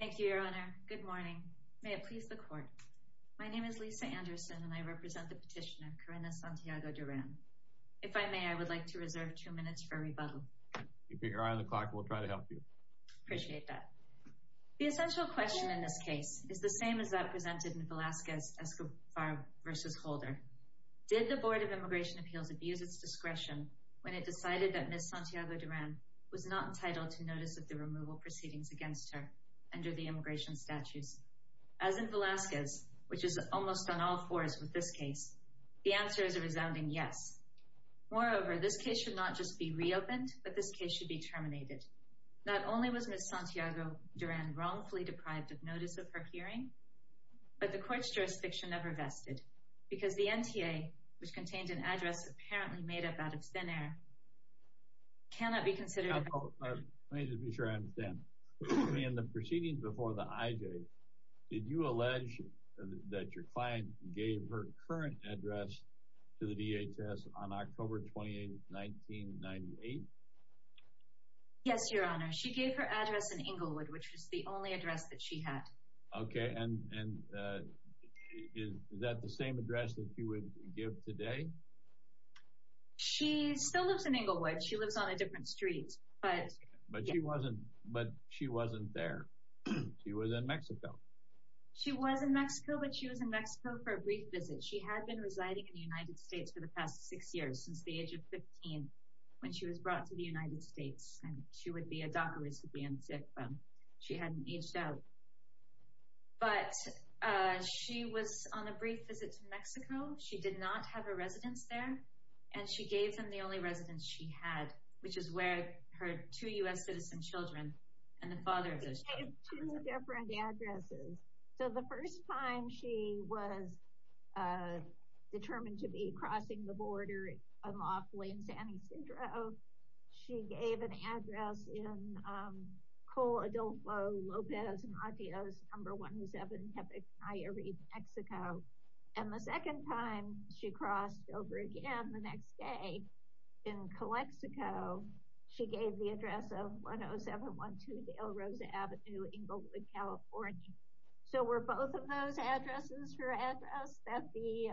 Thank you, Your Honor. Good morning. May it please the Court. My name is Lisa Anderson and I represent the petitioner, Karina Santiago-Duran. If I may, I would like to reserve two minutes for a rebuttal. Keep your eye on the clock. We'll try to help you. Appreciate that. The essential question in this case is the same as that presented in Velasquez-Escobar v. Holder. Did the Board of Immigration Appeals abuse its discretion when it decided that Ms. Santiago-Duran was not entitled to notice of the removal proceedings against her under the immigration statutes? As in Velasquez, which is almost on all fours with this case, the answer is a resounding yes. Moreover, this case should not just be reopened, but this case should be terminated. Not only was Ms. Santiago-Duran wrongfully deprived of notice of her hearing, but the Court's jurisdiction never vested because the NTA, which contained an address apparently made up out of thin air, cannot be considered. Let me just be sure I understand. In the proceedings before the IJ, did you allege that your client gave her current address to the DHS on October 28, 1998? Yes, Your Honor. She gave her address in Inglewood, which was the only address that she had. Okay, and is that the same address that you would give today? She still lives in Inglewood. She lives on a different street. But she wasn't there. She was in Mexico. She was in Mexico, but she was in Mexico for a brief visit. She had been residing in the United States for the past six years, since the age of 15, when she was brought to the United States. She would be a DACA recipient if she hadn't aged out. But she was on a brief visit to Mexico. She did not have a residence there, and she gave them the only residence she had, which is where her two U.S. citizen children and the father of those children live. She gave two different addresses. So the first time she was determined to be crossing the border unlawfully in San Ysidro, she gave an address in Coladolfo López Matias No. 107 Tepecayarit, Mexico. And the second time she crossed over again the next day, in Calexico, she gave the address of 10712 Dale Rosa Avenue, Inglewood, California. So were both of those addresses her address that the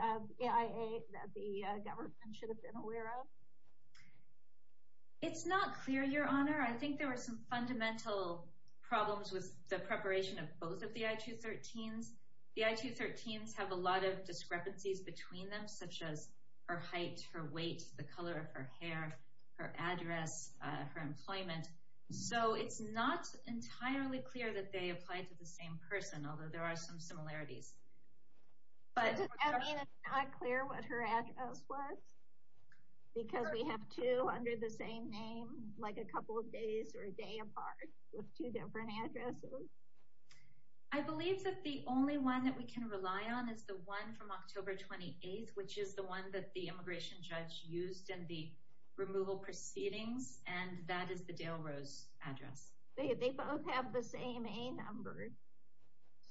AIA, that the government should have been aware of? It's not clear, Your Honor. I think there are some fundamental problems with the preparation of both of the I-213s. The I-213s have a lot of discrepancies between them, such as her height, her weight, the color of her hair, her address, her employment. So it's not entirely clear that they applied to the same person, although there are some similarities. I mean, it's not clear what her address was? Because we have two under the same name, like a couple of days or a day apart, with two different addresses? I believe that the only one that we can rely on is the one from October 28th, which is the one that the immigration judge used in the removal proceedings, and that is the Dale Rose address. They both have the same A number.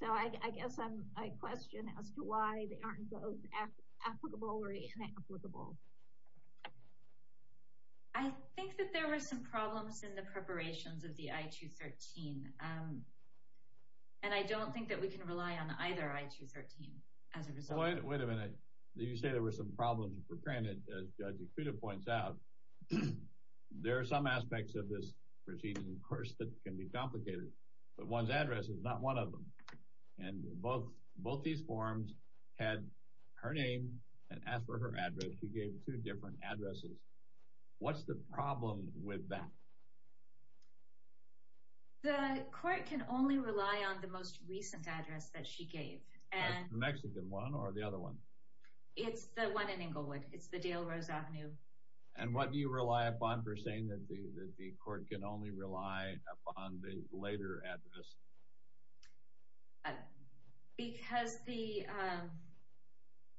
So I guess my question as to why they aren't both applicable or inapplicable. I think that there were some problems in the preparations of the I-213, and I don't think that we can rely on either I-213 as a result. Wait a minute. You say there were some problems in preparing it. As Judge Ikuda points out, there are some aspects of this proceeding, of course, that can be complicated, but one's address is not one of them. And both these forms had her name and asked for her address. She gave two different addresses. What's the problem with that? The court can only rely on the most recent address that she gave. The Mexican one or the other one? It's the one in Inglewood. It's the Dale Rose Avenue. And what do you rely upon for saying that the court can only rely upon the later address? Because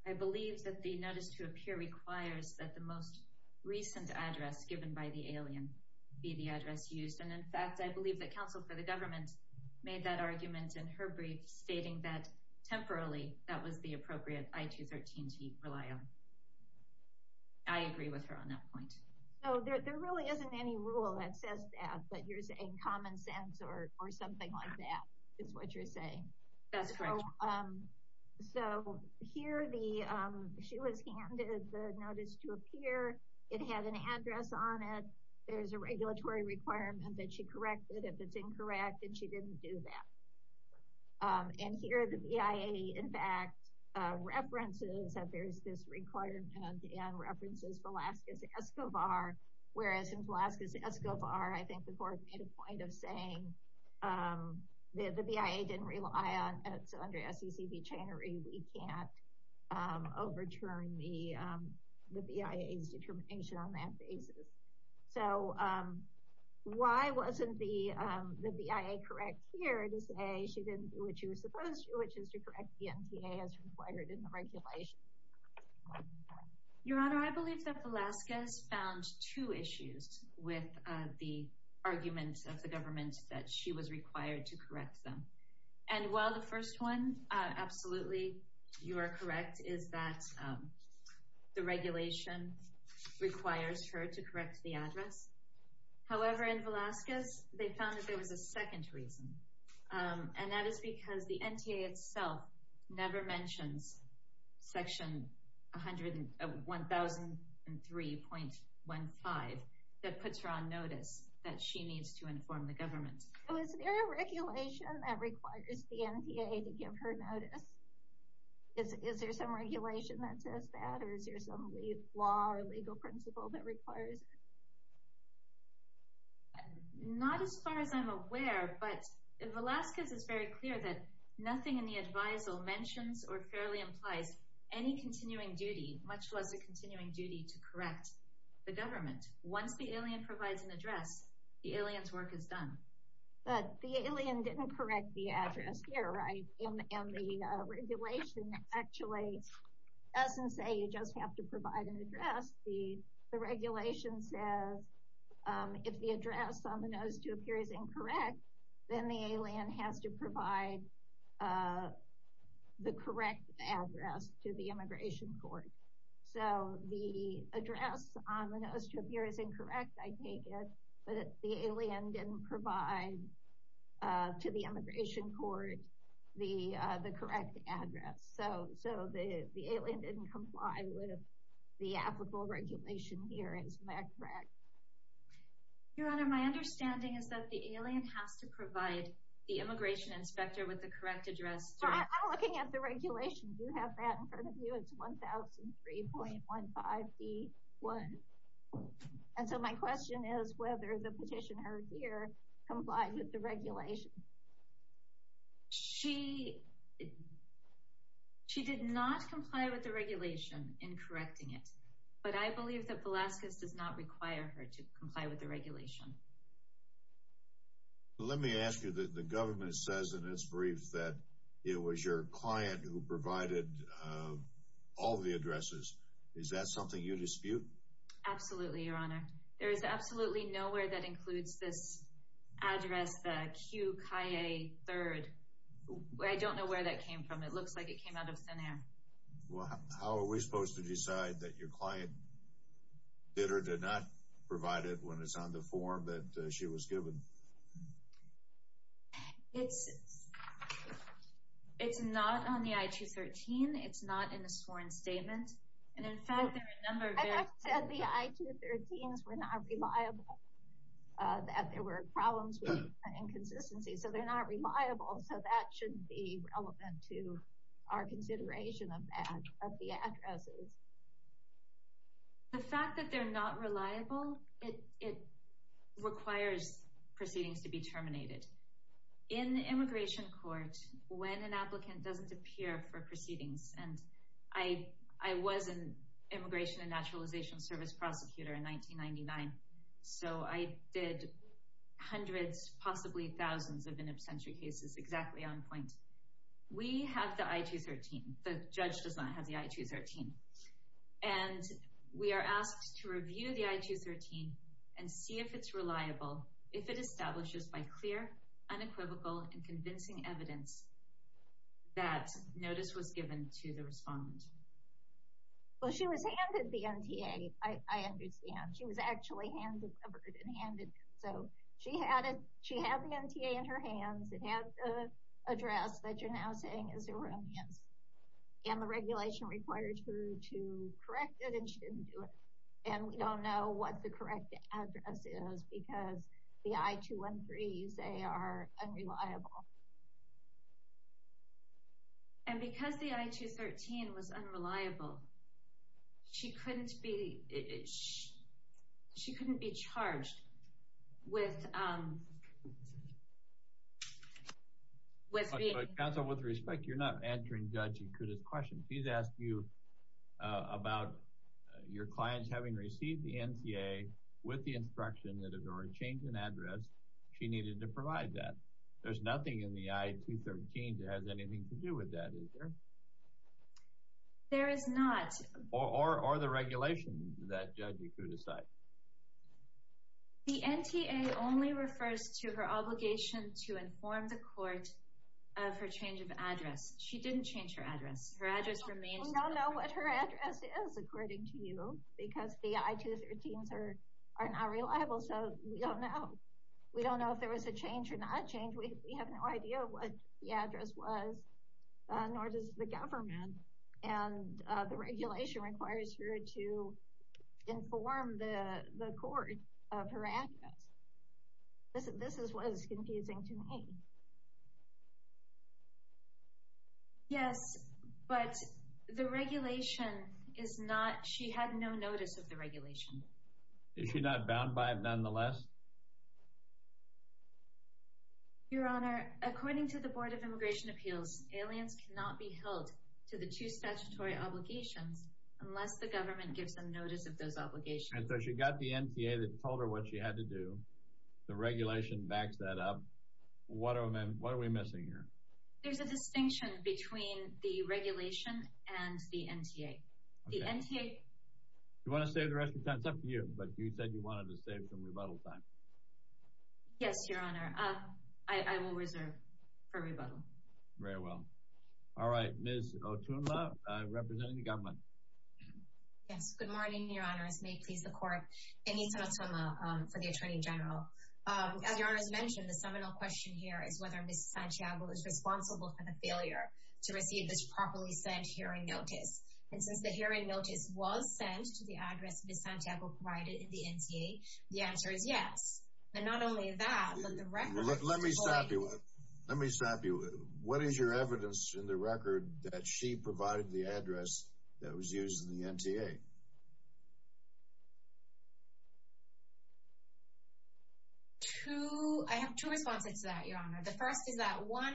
I believe that the notice to appear requires that the most recent address given by the alien be the address used. And in fact, I believe that counsel for the government made that argument in her brief, stating that temporarily that was the appropriate I-213 to rely on. I agree with her on that point. So there really isn't any rule that says that, but you're saying common sense or something like that is what you're saying. That's correct. So here she was handed the notice to appear. It had an address on it. There's a regulatory requirement that she correct it if it's incorrect, and she didn't do that. And here the BIA, in fact, references that there's this requirement and references Velazquez-Escobar. Whereas in Velazquez-Escobar, I think the court made a point of saying that the BIA didn't rely on it. So under SEC v. Chainery, we can't overturn the BIA's determination on that basis. So why wasn't the BIA correct here to say she didn't do what she was supposed to do, which is to correct the NTA as required in the regulation? Your Honor, I believe that Velazquez found two issues with the argument of the government that she was required to correct them. And while the first one, absolutely, you are correct, is that the regulation requires her to correct the address. However, in Velazquez, they found that there was a second reason. And that is because the NTA itself never mentions Section 100-1003.15 that puts her on notice that she needs to inform the government. So is there a regulation that requires the NTA to give her notice? Is there some regulation that says that, or is there some law or legal principle that requires it? Not as far as I'm aware, but Velazquez is very clear that nothing in the advisal mentions or fairly implies any continuing duty, much less a continuing duty to correct the government. Once the alien provides an address, the alien's work is done. But the alien didn't correct the address here, right? And the regulation actually doesn't say you just have to provide an address. The regulation says if the address on the notice to appear is incorrect, then the alien has to provide the correct address to the immigration court. So the address on the notice to appear is incorrect, I take it, but the alien didn't provide to the immigration court the correct address. So the alien didn't comply with the applicable regulation here, is that correct? Your Honor, my understanding is that the alien has to provide the immigration inspector with the correct address. I'm looking at the regulation. Do you have that in front of you? It's 1003.15d1. And so my question is whether the petitioner here complied with the regulation. She did not comply with the regulation in correcting it, but I believe that Velazquez does not require her to comply with the regulation. Let me ask you, the government says in its briefs that it was your client who provided all the addresses. Is that something you dispute? Absolutely, Your Honor. There is absolutely nowhere that includes this address, the Q. Kaye 3rd. I don't know where that came from. It looks like it came out of thin air. How are we supposed to decide that your client did or did not provide it when it's on the form that she was given? It's not on the I-213. It's not in the sworn statement. I just said the I-213s were not reliable, that there were problems with inconsistency. So they're not reliable, so that shouldn't be relevant to our consideration of the addresses. The fact that they're not reliable, it requires proceedings to be terminated. In immigration court, when an applicant doesn't appear for proceedings, and I was an immigration and naturalization service prosecutor in 1999, so I did hundreds, possibly thousands of in absentia cases exactly on point. We have the I-213. The judge does not have the I-213. And we are asked to review the I-213 and see if it's reliable, if it establishes by clear, unequivocal, and convincing evidence that notice was given to the respondent. Well, she was handed the NTA, I understand. She was actually hand-delivered and handed. So she had the NTA in her hands. It had the address that you're now saying is erroneous. And the regulation required her to correct it, and she didn't do it. And we don't know what the correct address is because the I-213s, they are unreliable. And because the I-213 was unreliable, she couldn't be charged with being... Counsel, with respect, you're not answering Judge Ikuda's question. She's asked you about your clients having received the NTA with the instruction that if there were a change in address, she needed to provide that. There's nothing in the I-213 that has anything to do with that, is there? There is not. Or the regulation that Judge Ikuda cited. The NTA only refers to her obligation to inform the court of her change of address. She didn't change her address. Her address remains... We don't know what her address is, according to you, because the I-213s are not reliable. So, we don't know. We don't know if there was a change or not a change. We have no idea what the address was, nor does the government. And the regulation requires her to inform the court of her address. This is what is confusing to me. Yes, but the regulation is not... She had no notice of the regulation. Is she not bound by it, nonetheless? Your Honor, according to the Board of Immigration Appeals, aliens cannot be held to the two statutory obligations unless the government gives them notice of those obligations. And so she got the NTA that told her what she had to do. The regulation backs that up. What are we missing here? There's a distinction between the regulation and the NTA. You want to save the rest of your time? It's up to you. But you said you wanted to save some rebuttal time. Yes, Your Honor. I will reserve for rebuttal. Very well. All right. Ms. Otunla, representing the government. Yes. Good morning, Your Honors. May it please the Court. Anita Otunla for the Attorney General. As Your Honor has mentioned, the seminal question here is whether Ms. Santiago is responsible for the failure to receive this properly sent hearing notice. And since the hearing notice was sent to the address Ms. Santiago provided in the NTA, the answer is yes. And not only that, but the record... Let me stop you. Let me stop you. What is your evidence in the record that she provided the address that was used in the NTA? Two... I have two responses to that, Your Honor. The first is that, one,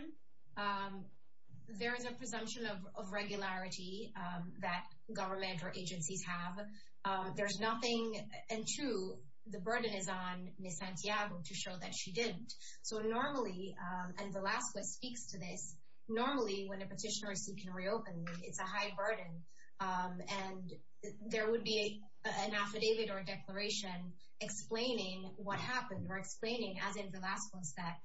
there is a presumption of regularity that government or agencies have. There's nothing... And two, the burden is on Ms. Santiago to show that she didn't. So normally, and Velasco speaks to this, normally when a petitioner is seeking to reopen, it's a high burden. And there would be an affidavit or a declaration explaining what happened or explaining, as in Velasco's, that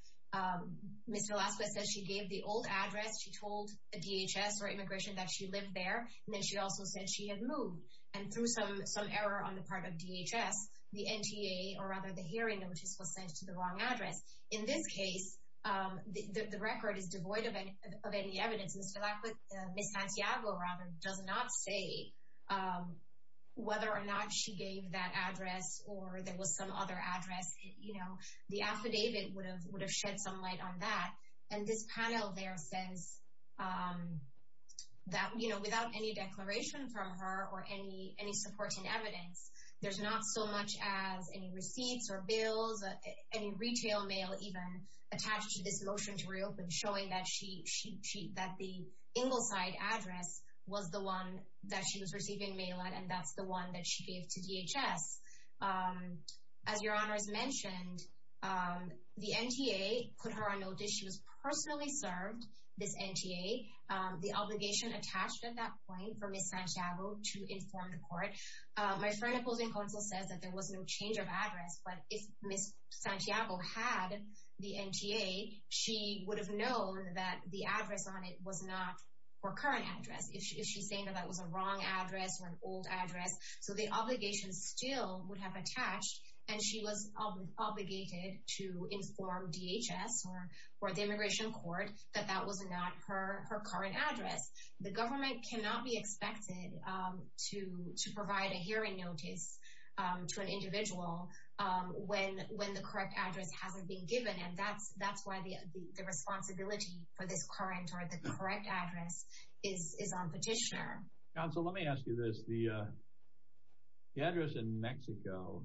Ms. Velasco said she gave the old address. She told the DHS or Immigration that she lived there. And then she also said she had moved. And through some error on the part of DHS, the NTA, or rather the hearing notice, was sent to the wrong address. In this case, the record is devoid of any evidence. Ms. Santiago, rather, does not say whether or not she gave that address or there was some other address. The affidavit would have shed some light on that. And this panel there says that without any declaration from her or any supporting evidence, there's not so much as any receipts or bills, any retail mail even, attached to this motion to reopen, showing that the Ingleside address was the one that she was receiving mail at and that's the one that she gave to DHS. As Your Honors mentioned, the NTA put her on notice. She was personally served, this NTA. The obligation attached at that point for Ms. Santiago to inform the court. My friend opposing counsel says that there was no change of address. But if Ms. Santiago had the NTA, she would have known that the address on it was not her current address. If she's saying that that was a wrong address or an old address. So the obligation still would have attached. And she was obligated to inform DHS or the Immigration Court that that was not her current address. The government cannot be expected to provide a hearing notice to an individual when the correct address hasn't been given. And that's why the responsibility for this current or the correct address is on petitioner. Counsel, let me ask you this. The address in Mexico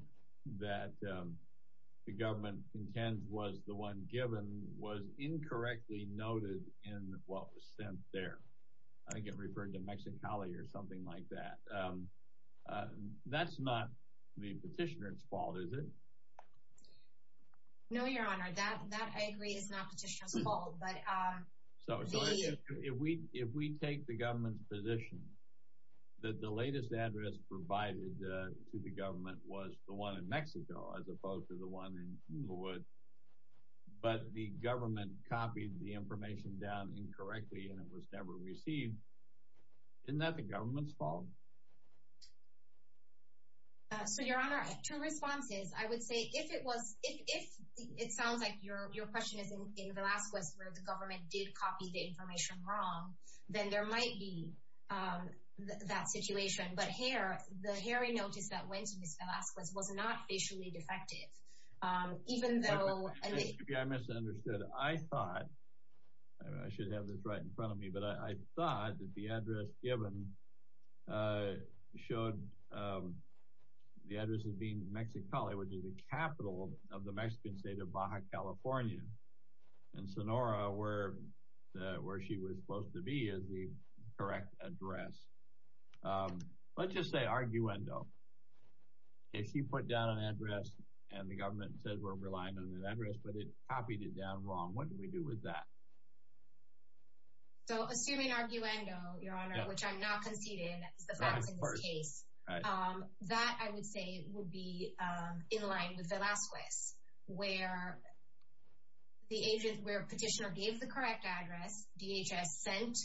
that the government intends was the one given was incorrectly noted in what was sent there. I get referred to Mexicali or something like that. That's not the petitioner's fault, is it? No, Your Honor. That, I agree, is not petitioner's fault. So if we take the government's position that the latest address provided to the government was the one in Mexico as opposed to the one in Inglewood. But the government copied the information down incorrectly and it was never received. Isn't that the government's fault? So, Your Honor, two responses. I would say if it sounds like your question is in Velazquez where the government did copy the information wrong, then there might be that situation. But the hearing notice that went to Ms. Velazquez was not facially defective. Excuse me, I misunderstood. I thought, and I should have this right in front of me, but I thought that the address given showed the address as being Mexicali, which is the capital of the Mexican state of Baja California. And Sonora, where she was supposed to be, is the correct address. Let's just say arguendo. If she put down an address and the government says we're relying on that address, but it copied it down wrong, what do we do with that? So, assuming arguendo, Your Honor, which I'm not conceding is the facts of this case, that, I would say, would be in line with Velazquez. where petitioner gave the correct address, DHS sent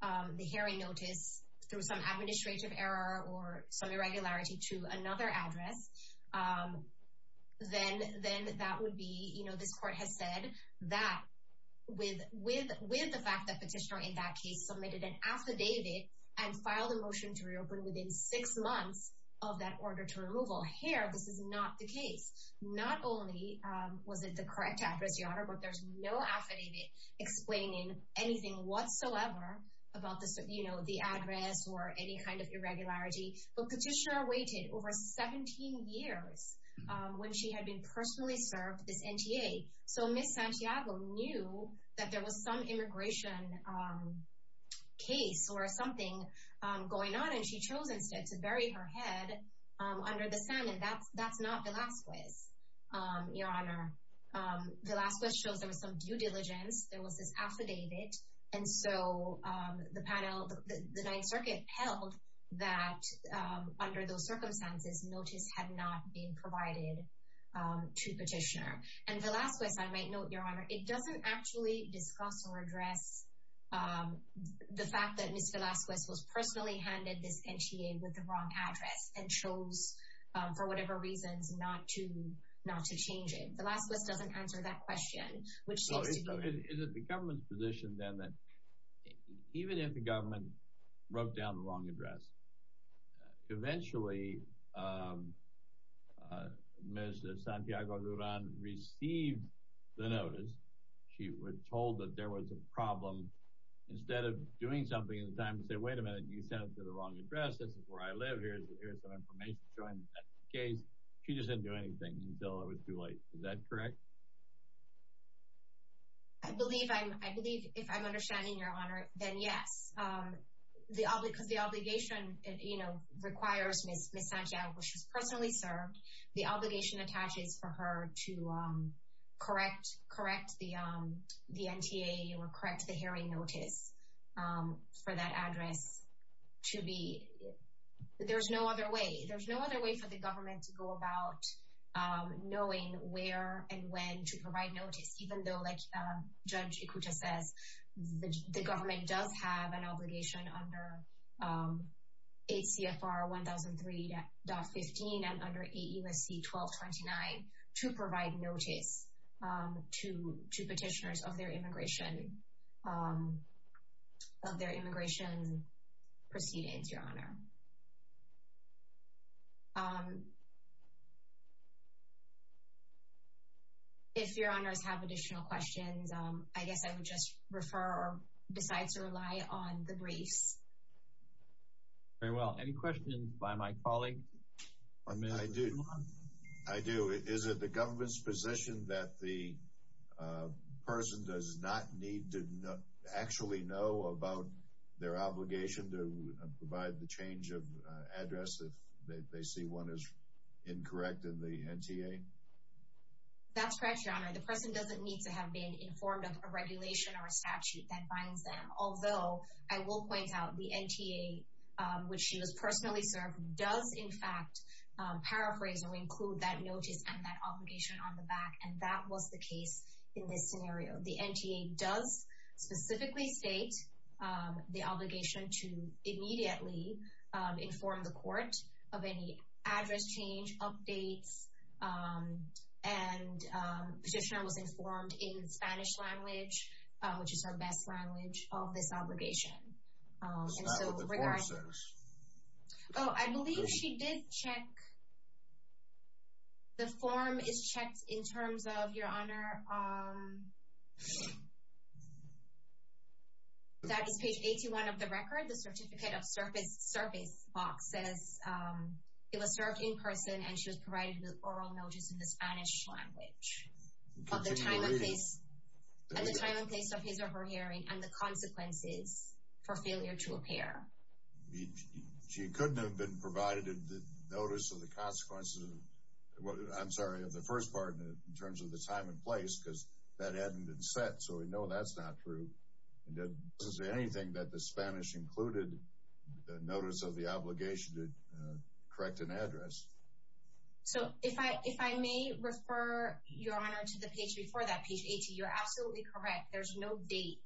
the hearing notice through some administrative error or some irregularity to another address, then that would be, you know, this court has said that with the fact that petitioner in that case submitted an affidavit and filed a motion to reopen within six months of that order to removal. Here, this is not the case. Not only was it the correct address, Your Honor, but there's no affidavit explaining anything whatsoever about this, you know, the address or any kind of irregularity. But petitioner waited over 17 years when she had been personally served this NTA. So, Ms. Santiago knew that there was some immigration case or something going on, and she chose instead to bury her head under the sand. And that's not Velazquez, Your Honor. Velazquez chose there was some due diligence. There was this affidavit. And so, the panel, the Ninth Circuit held that under those circumstances, notice had not been provided to petitioner. And Velazquez, I might note, Your Honor, it doesn't actually discuss or address the fact that Ms. Velazquez was personally handed this NTA with the wrong address and chose, for whatever reasons, not to change it. Velazquez doesn't answer that question, which seems to be— Is it the government's position, then, that even if the government wrote down the wrong address, eventually, Ms. Santiago Durán received the notice. She was told that there was a problem. Instead of doing something at the time to say, wait a minute, you sent it to the wrong address, this is where I live, here's some information showing that's the case, she just didn't do anything until it was too late. Is that correct? I believe, if I'm understanding, Your Honor, then yes. Because the obligation requires Ms. Santiago, where she's personally served, the obligation attaches for her to correct the NTA or correct the hearing notice for that address. There's no other way. There's no other way for the government to go about knowing where and when to provide notice. Even though, like Judge Ikuta says, the government does have an obligation under 8 CFR 1003.15 and under 8 U.S.C. 1229 to provide notice to petitioners of their immigration proceedings, Your Honor. If Your Honors have additional questions, I guess I would just refer or decide to rely on the briefs. Very well. Any questions by my colleague? I do. I do. Is it the government's position that the person does not need to actually know about their obligation to provide the change of address if they see one is incorrect in the NTA? That's correct, Your Honor. The person doesn't need to have been informed of a regulation or a statute that binds them. Although, I will point out the NTA, which she was personally served, does, in fact, paraphrase or include that notice and that obligation on the back. And that was the case in this scenario. The NTA does specifically state the obligation to immediately inform the court of any address change, updates, and petitioner was informed in Spanish language, which is her best language, of this obligation. That's not what the form says. Oh, I believe she did check. The form is checked in terms of, Your Honor, that is page 81 of the record. The certificate of service box says it was served in person and she was provided with oral notice in the Spanish language. At the time and place of his or her hearing and the consequences for failure to appear. She couldn't have been provided the notice of the consequences of the first part in terms of the time and place because that hadn't been set, so we know that's not true. It doesn't say anything that the Spanish included the notice of the obligation to correct an address. So if I may refer, Your Honor, to the page before that, page 80, you're absolutely correct. There's no date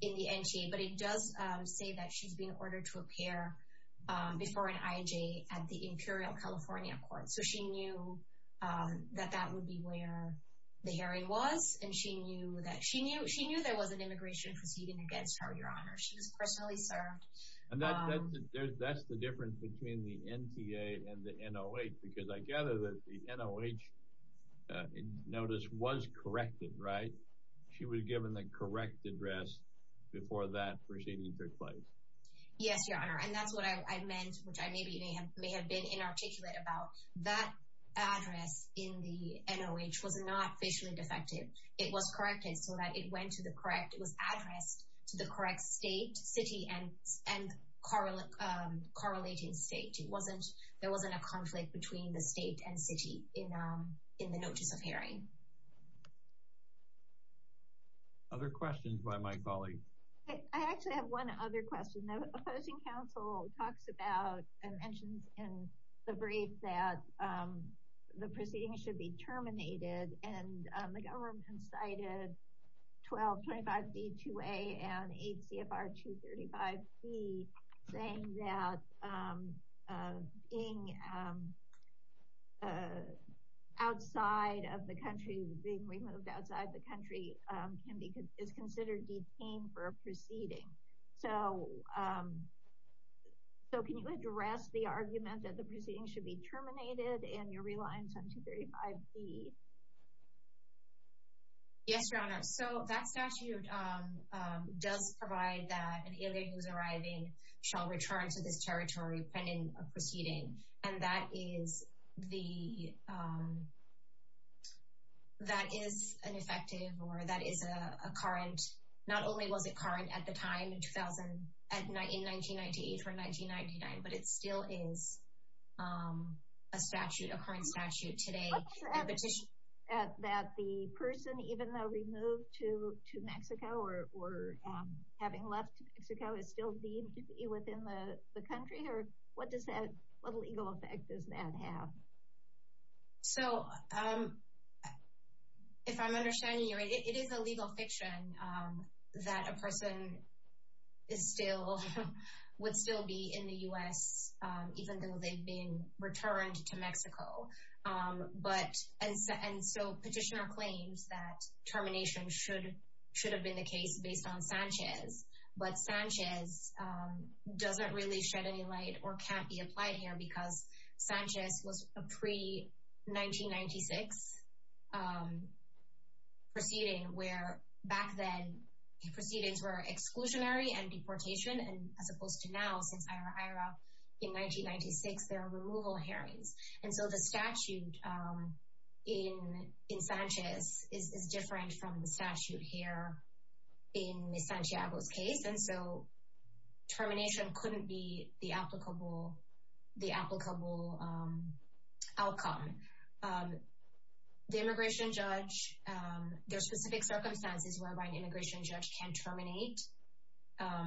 in the NTA, but it does say that she's been ordered to appear before an IJ at the Imperial California Court. So she knew that that would be where the hearing was, and she knew there was an immigration proceeding against her, Your Honor. She was personally served. And that's the difference between the NTA and the NOH because I gather that the NOH notice was corrected, right? She was given the correct address before that proceeding took place. Yes, Your Honor, and that's what I meant, which I may have been inarticulate about. That address in the NOH was not visually defective. It was corrected so that it went to the correct—it was addressed to the correct state, city, and correlating state. There wasn't a conflict between the state and city in the notice of hearing. Other questions by my colleagues? I actually have one other question. The opposing counsel talks about and mentions in the brief that the proceeding should be terminated, and the government cited 1225B2A and 8 CFR 235B saying that being outside of the country, being removed outside the country, is considered detained for a proceeding. So can you address the argument that the proceeding should be terminated and you're relying on 235B? Yes, Your Honor. So that statute does provide that an alien who's arriving shall return to this territory pending a proceeding. And that is the—that is an effective or that is a current—not only was it current at the time in 1998 or 1999, but it still is a statute, a current statute today. What is your evidence that the person, even though removed to Mexico or having left Mexico, is still deemed to be within the country? Or what does that—what legal effect does that have? So if I'm understanding you right, it is a legal fiction that a person is still—would still be in the U.S. even though they've been returned to Mexico. But—and so petitioner claims that termination should have been the case based on Sanchez. But Sanchez doesn't really shed any light or can't be applied here because Sanchez was a pre-1996 proceeding where back then proceedings were exclusionary and deportation. And as opposed to now, since IHRA, in 1996, there are removal hearings. And so the statute in Sanchez is different from the statute here in Ms. Santiago's case. And so termination couldn't be the applicable outcome. The immigration judge—there are specific circumstances whereby an immigration judge can terminate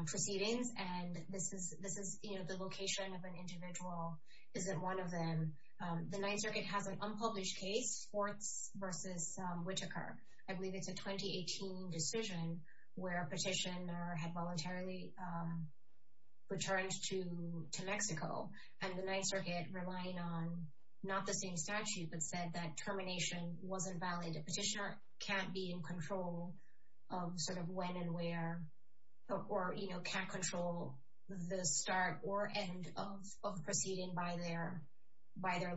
proceedings. And this is—the location of an individual isn't one of them. The Ninth Circuit has an unpublished case, Fortz v. Whittaker. I believe it's a 2018 decision where a petitioner had voluntarily returned to Mexico. And the Ninth Circuit, relying on not the same statute, but said that termination wasn't valid. And a petitioner can't be in control of sort of when and where, or can't control the start or end of proceeding by their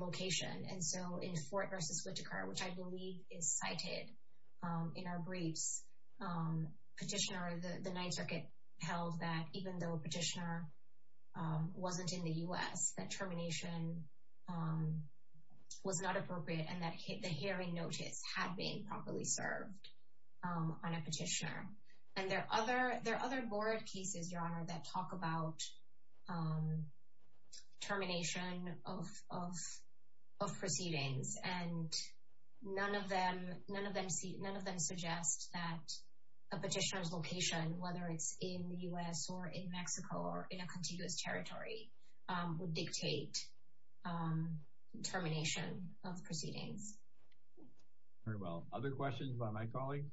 location. And so in Fort v. Whittaker, which I believe is cited in our briefs, petitioner—the Ninth Circuit held that even though a petitioner wasn't in the U.S., that termination was not appropriate and that the hearing notice had been improperly served on a petitioner. And there are other board pieces, Your Honor, that talk about termination of proceedings. And none of them suggest that a petitioner's location, whether it's in the U.S. or in Mexico or in a contiguous territory, would dictate termination of proceedings. Very well. Other questions by my colleague?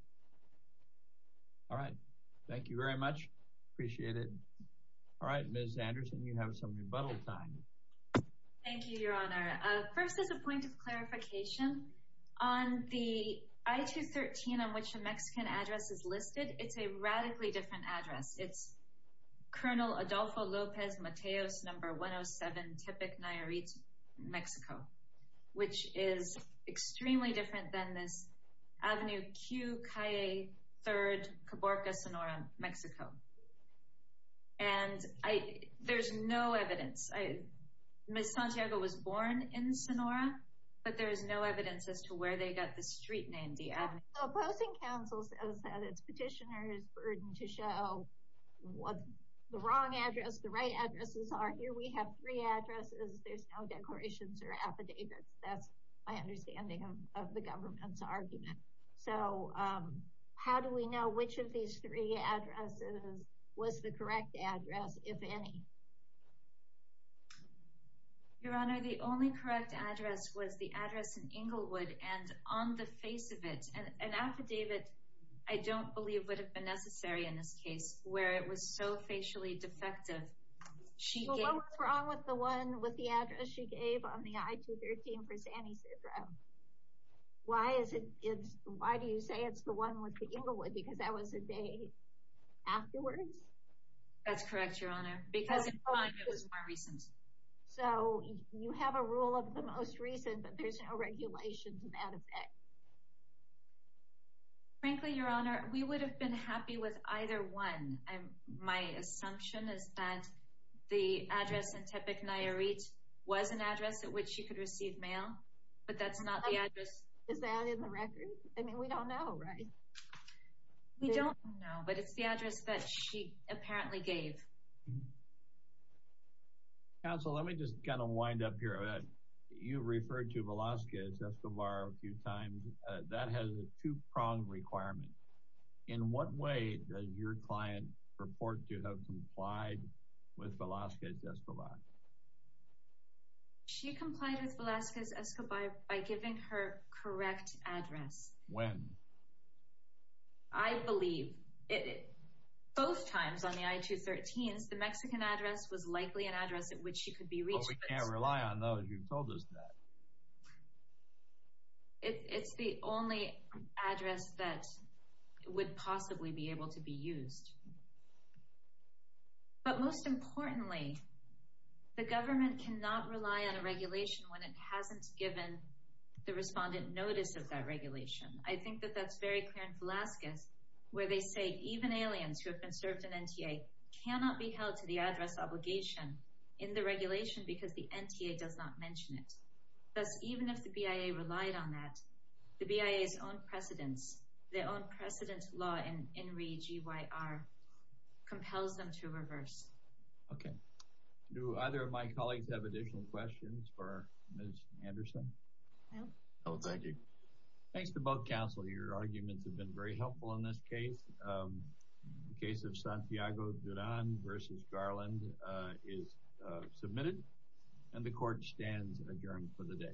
All right. Thank you very much. Appreciate it. All right, Ms. Anderson, you have some rebuttal time. Thank you, Your Honor. First, as a point of clarification, on the I-213 on which the Mexican address is listed, it's a radically different address. It's Colonel Adolfo Lopez Mateos, number 107, Tippec, Nayarit, Mexico, which is extremely different than this Avenue Q, Calle 3, Caborca, Sonora, Mexico. And there's no evidence. Ms. Santiago was born in Sonora, but there is no evidence as to where they got the street name, the Avenue Q. The opposing counsel says that it's petitioner's burden to show what the wrong address, the right addresses are. Here we have three addresses. There's no declarations or affidavits. That's my understanding of the government's argument. So how do we know which of these three addresses was the correct address, if any? Your Honor, the only correct address was the address in Inglewood. And on the face of it, an affidavit, I don't believe, would have been necessary in this case where it was so facially defective. So what was wrong with the one with the address she gave on the I-213 for San Ysidro? Why do you say it's the one with the Inglewood? Because that was the day afterwards? That's correct, Your Honor, because it was more recent. So you have a rule of the most recent, but there's no regulation to that effect. Frankly, Your Honor, we would have been happy with either one. My assumption is that the address in Tepic, Nayarit, was an address at which she could receive mail. But that's not the address. Is that in the record? I mean, we don't know, right? We don't know, but it's the address that she apparently gave. Counsel, let me just kind of wind up here. You referred to Velazquez-Escobar a few times. That has a two-prong requirement. In what way does your client report to have complied with Velazquez-Escobar? She complied with Velazquez-Escobar by giving her correct address. When? I believe, both times on the I-213s, the Mexican address was likely an address at which she could be reached. But we can't rely on those. You've told us that. It's the only address that would possibly be able to be used. But most importantly, the government cannot rely on a regulation when it hasn't given the respondent notice of that regulation. I think that that's very clear in Velazquez, where they say even aliens who have been served in NTA cannot be held to the address obligation in the regulation because the NTA does not mention it. Thus, even if the BIA relied on that, the BIA's own precedence, their own precedent law in REGYR compels them to reverse. Okay. Do either of my colleagues have additional questions for Ms. Anderson? No. No, thank you. Thanks to both counsel. Your arguments have been very helpful in this case. The case of Santiago Duran v. Garland is submitted, and the court stands adjourned for the day.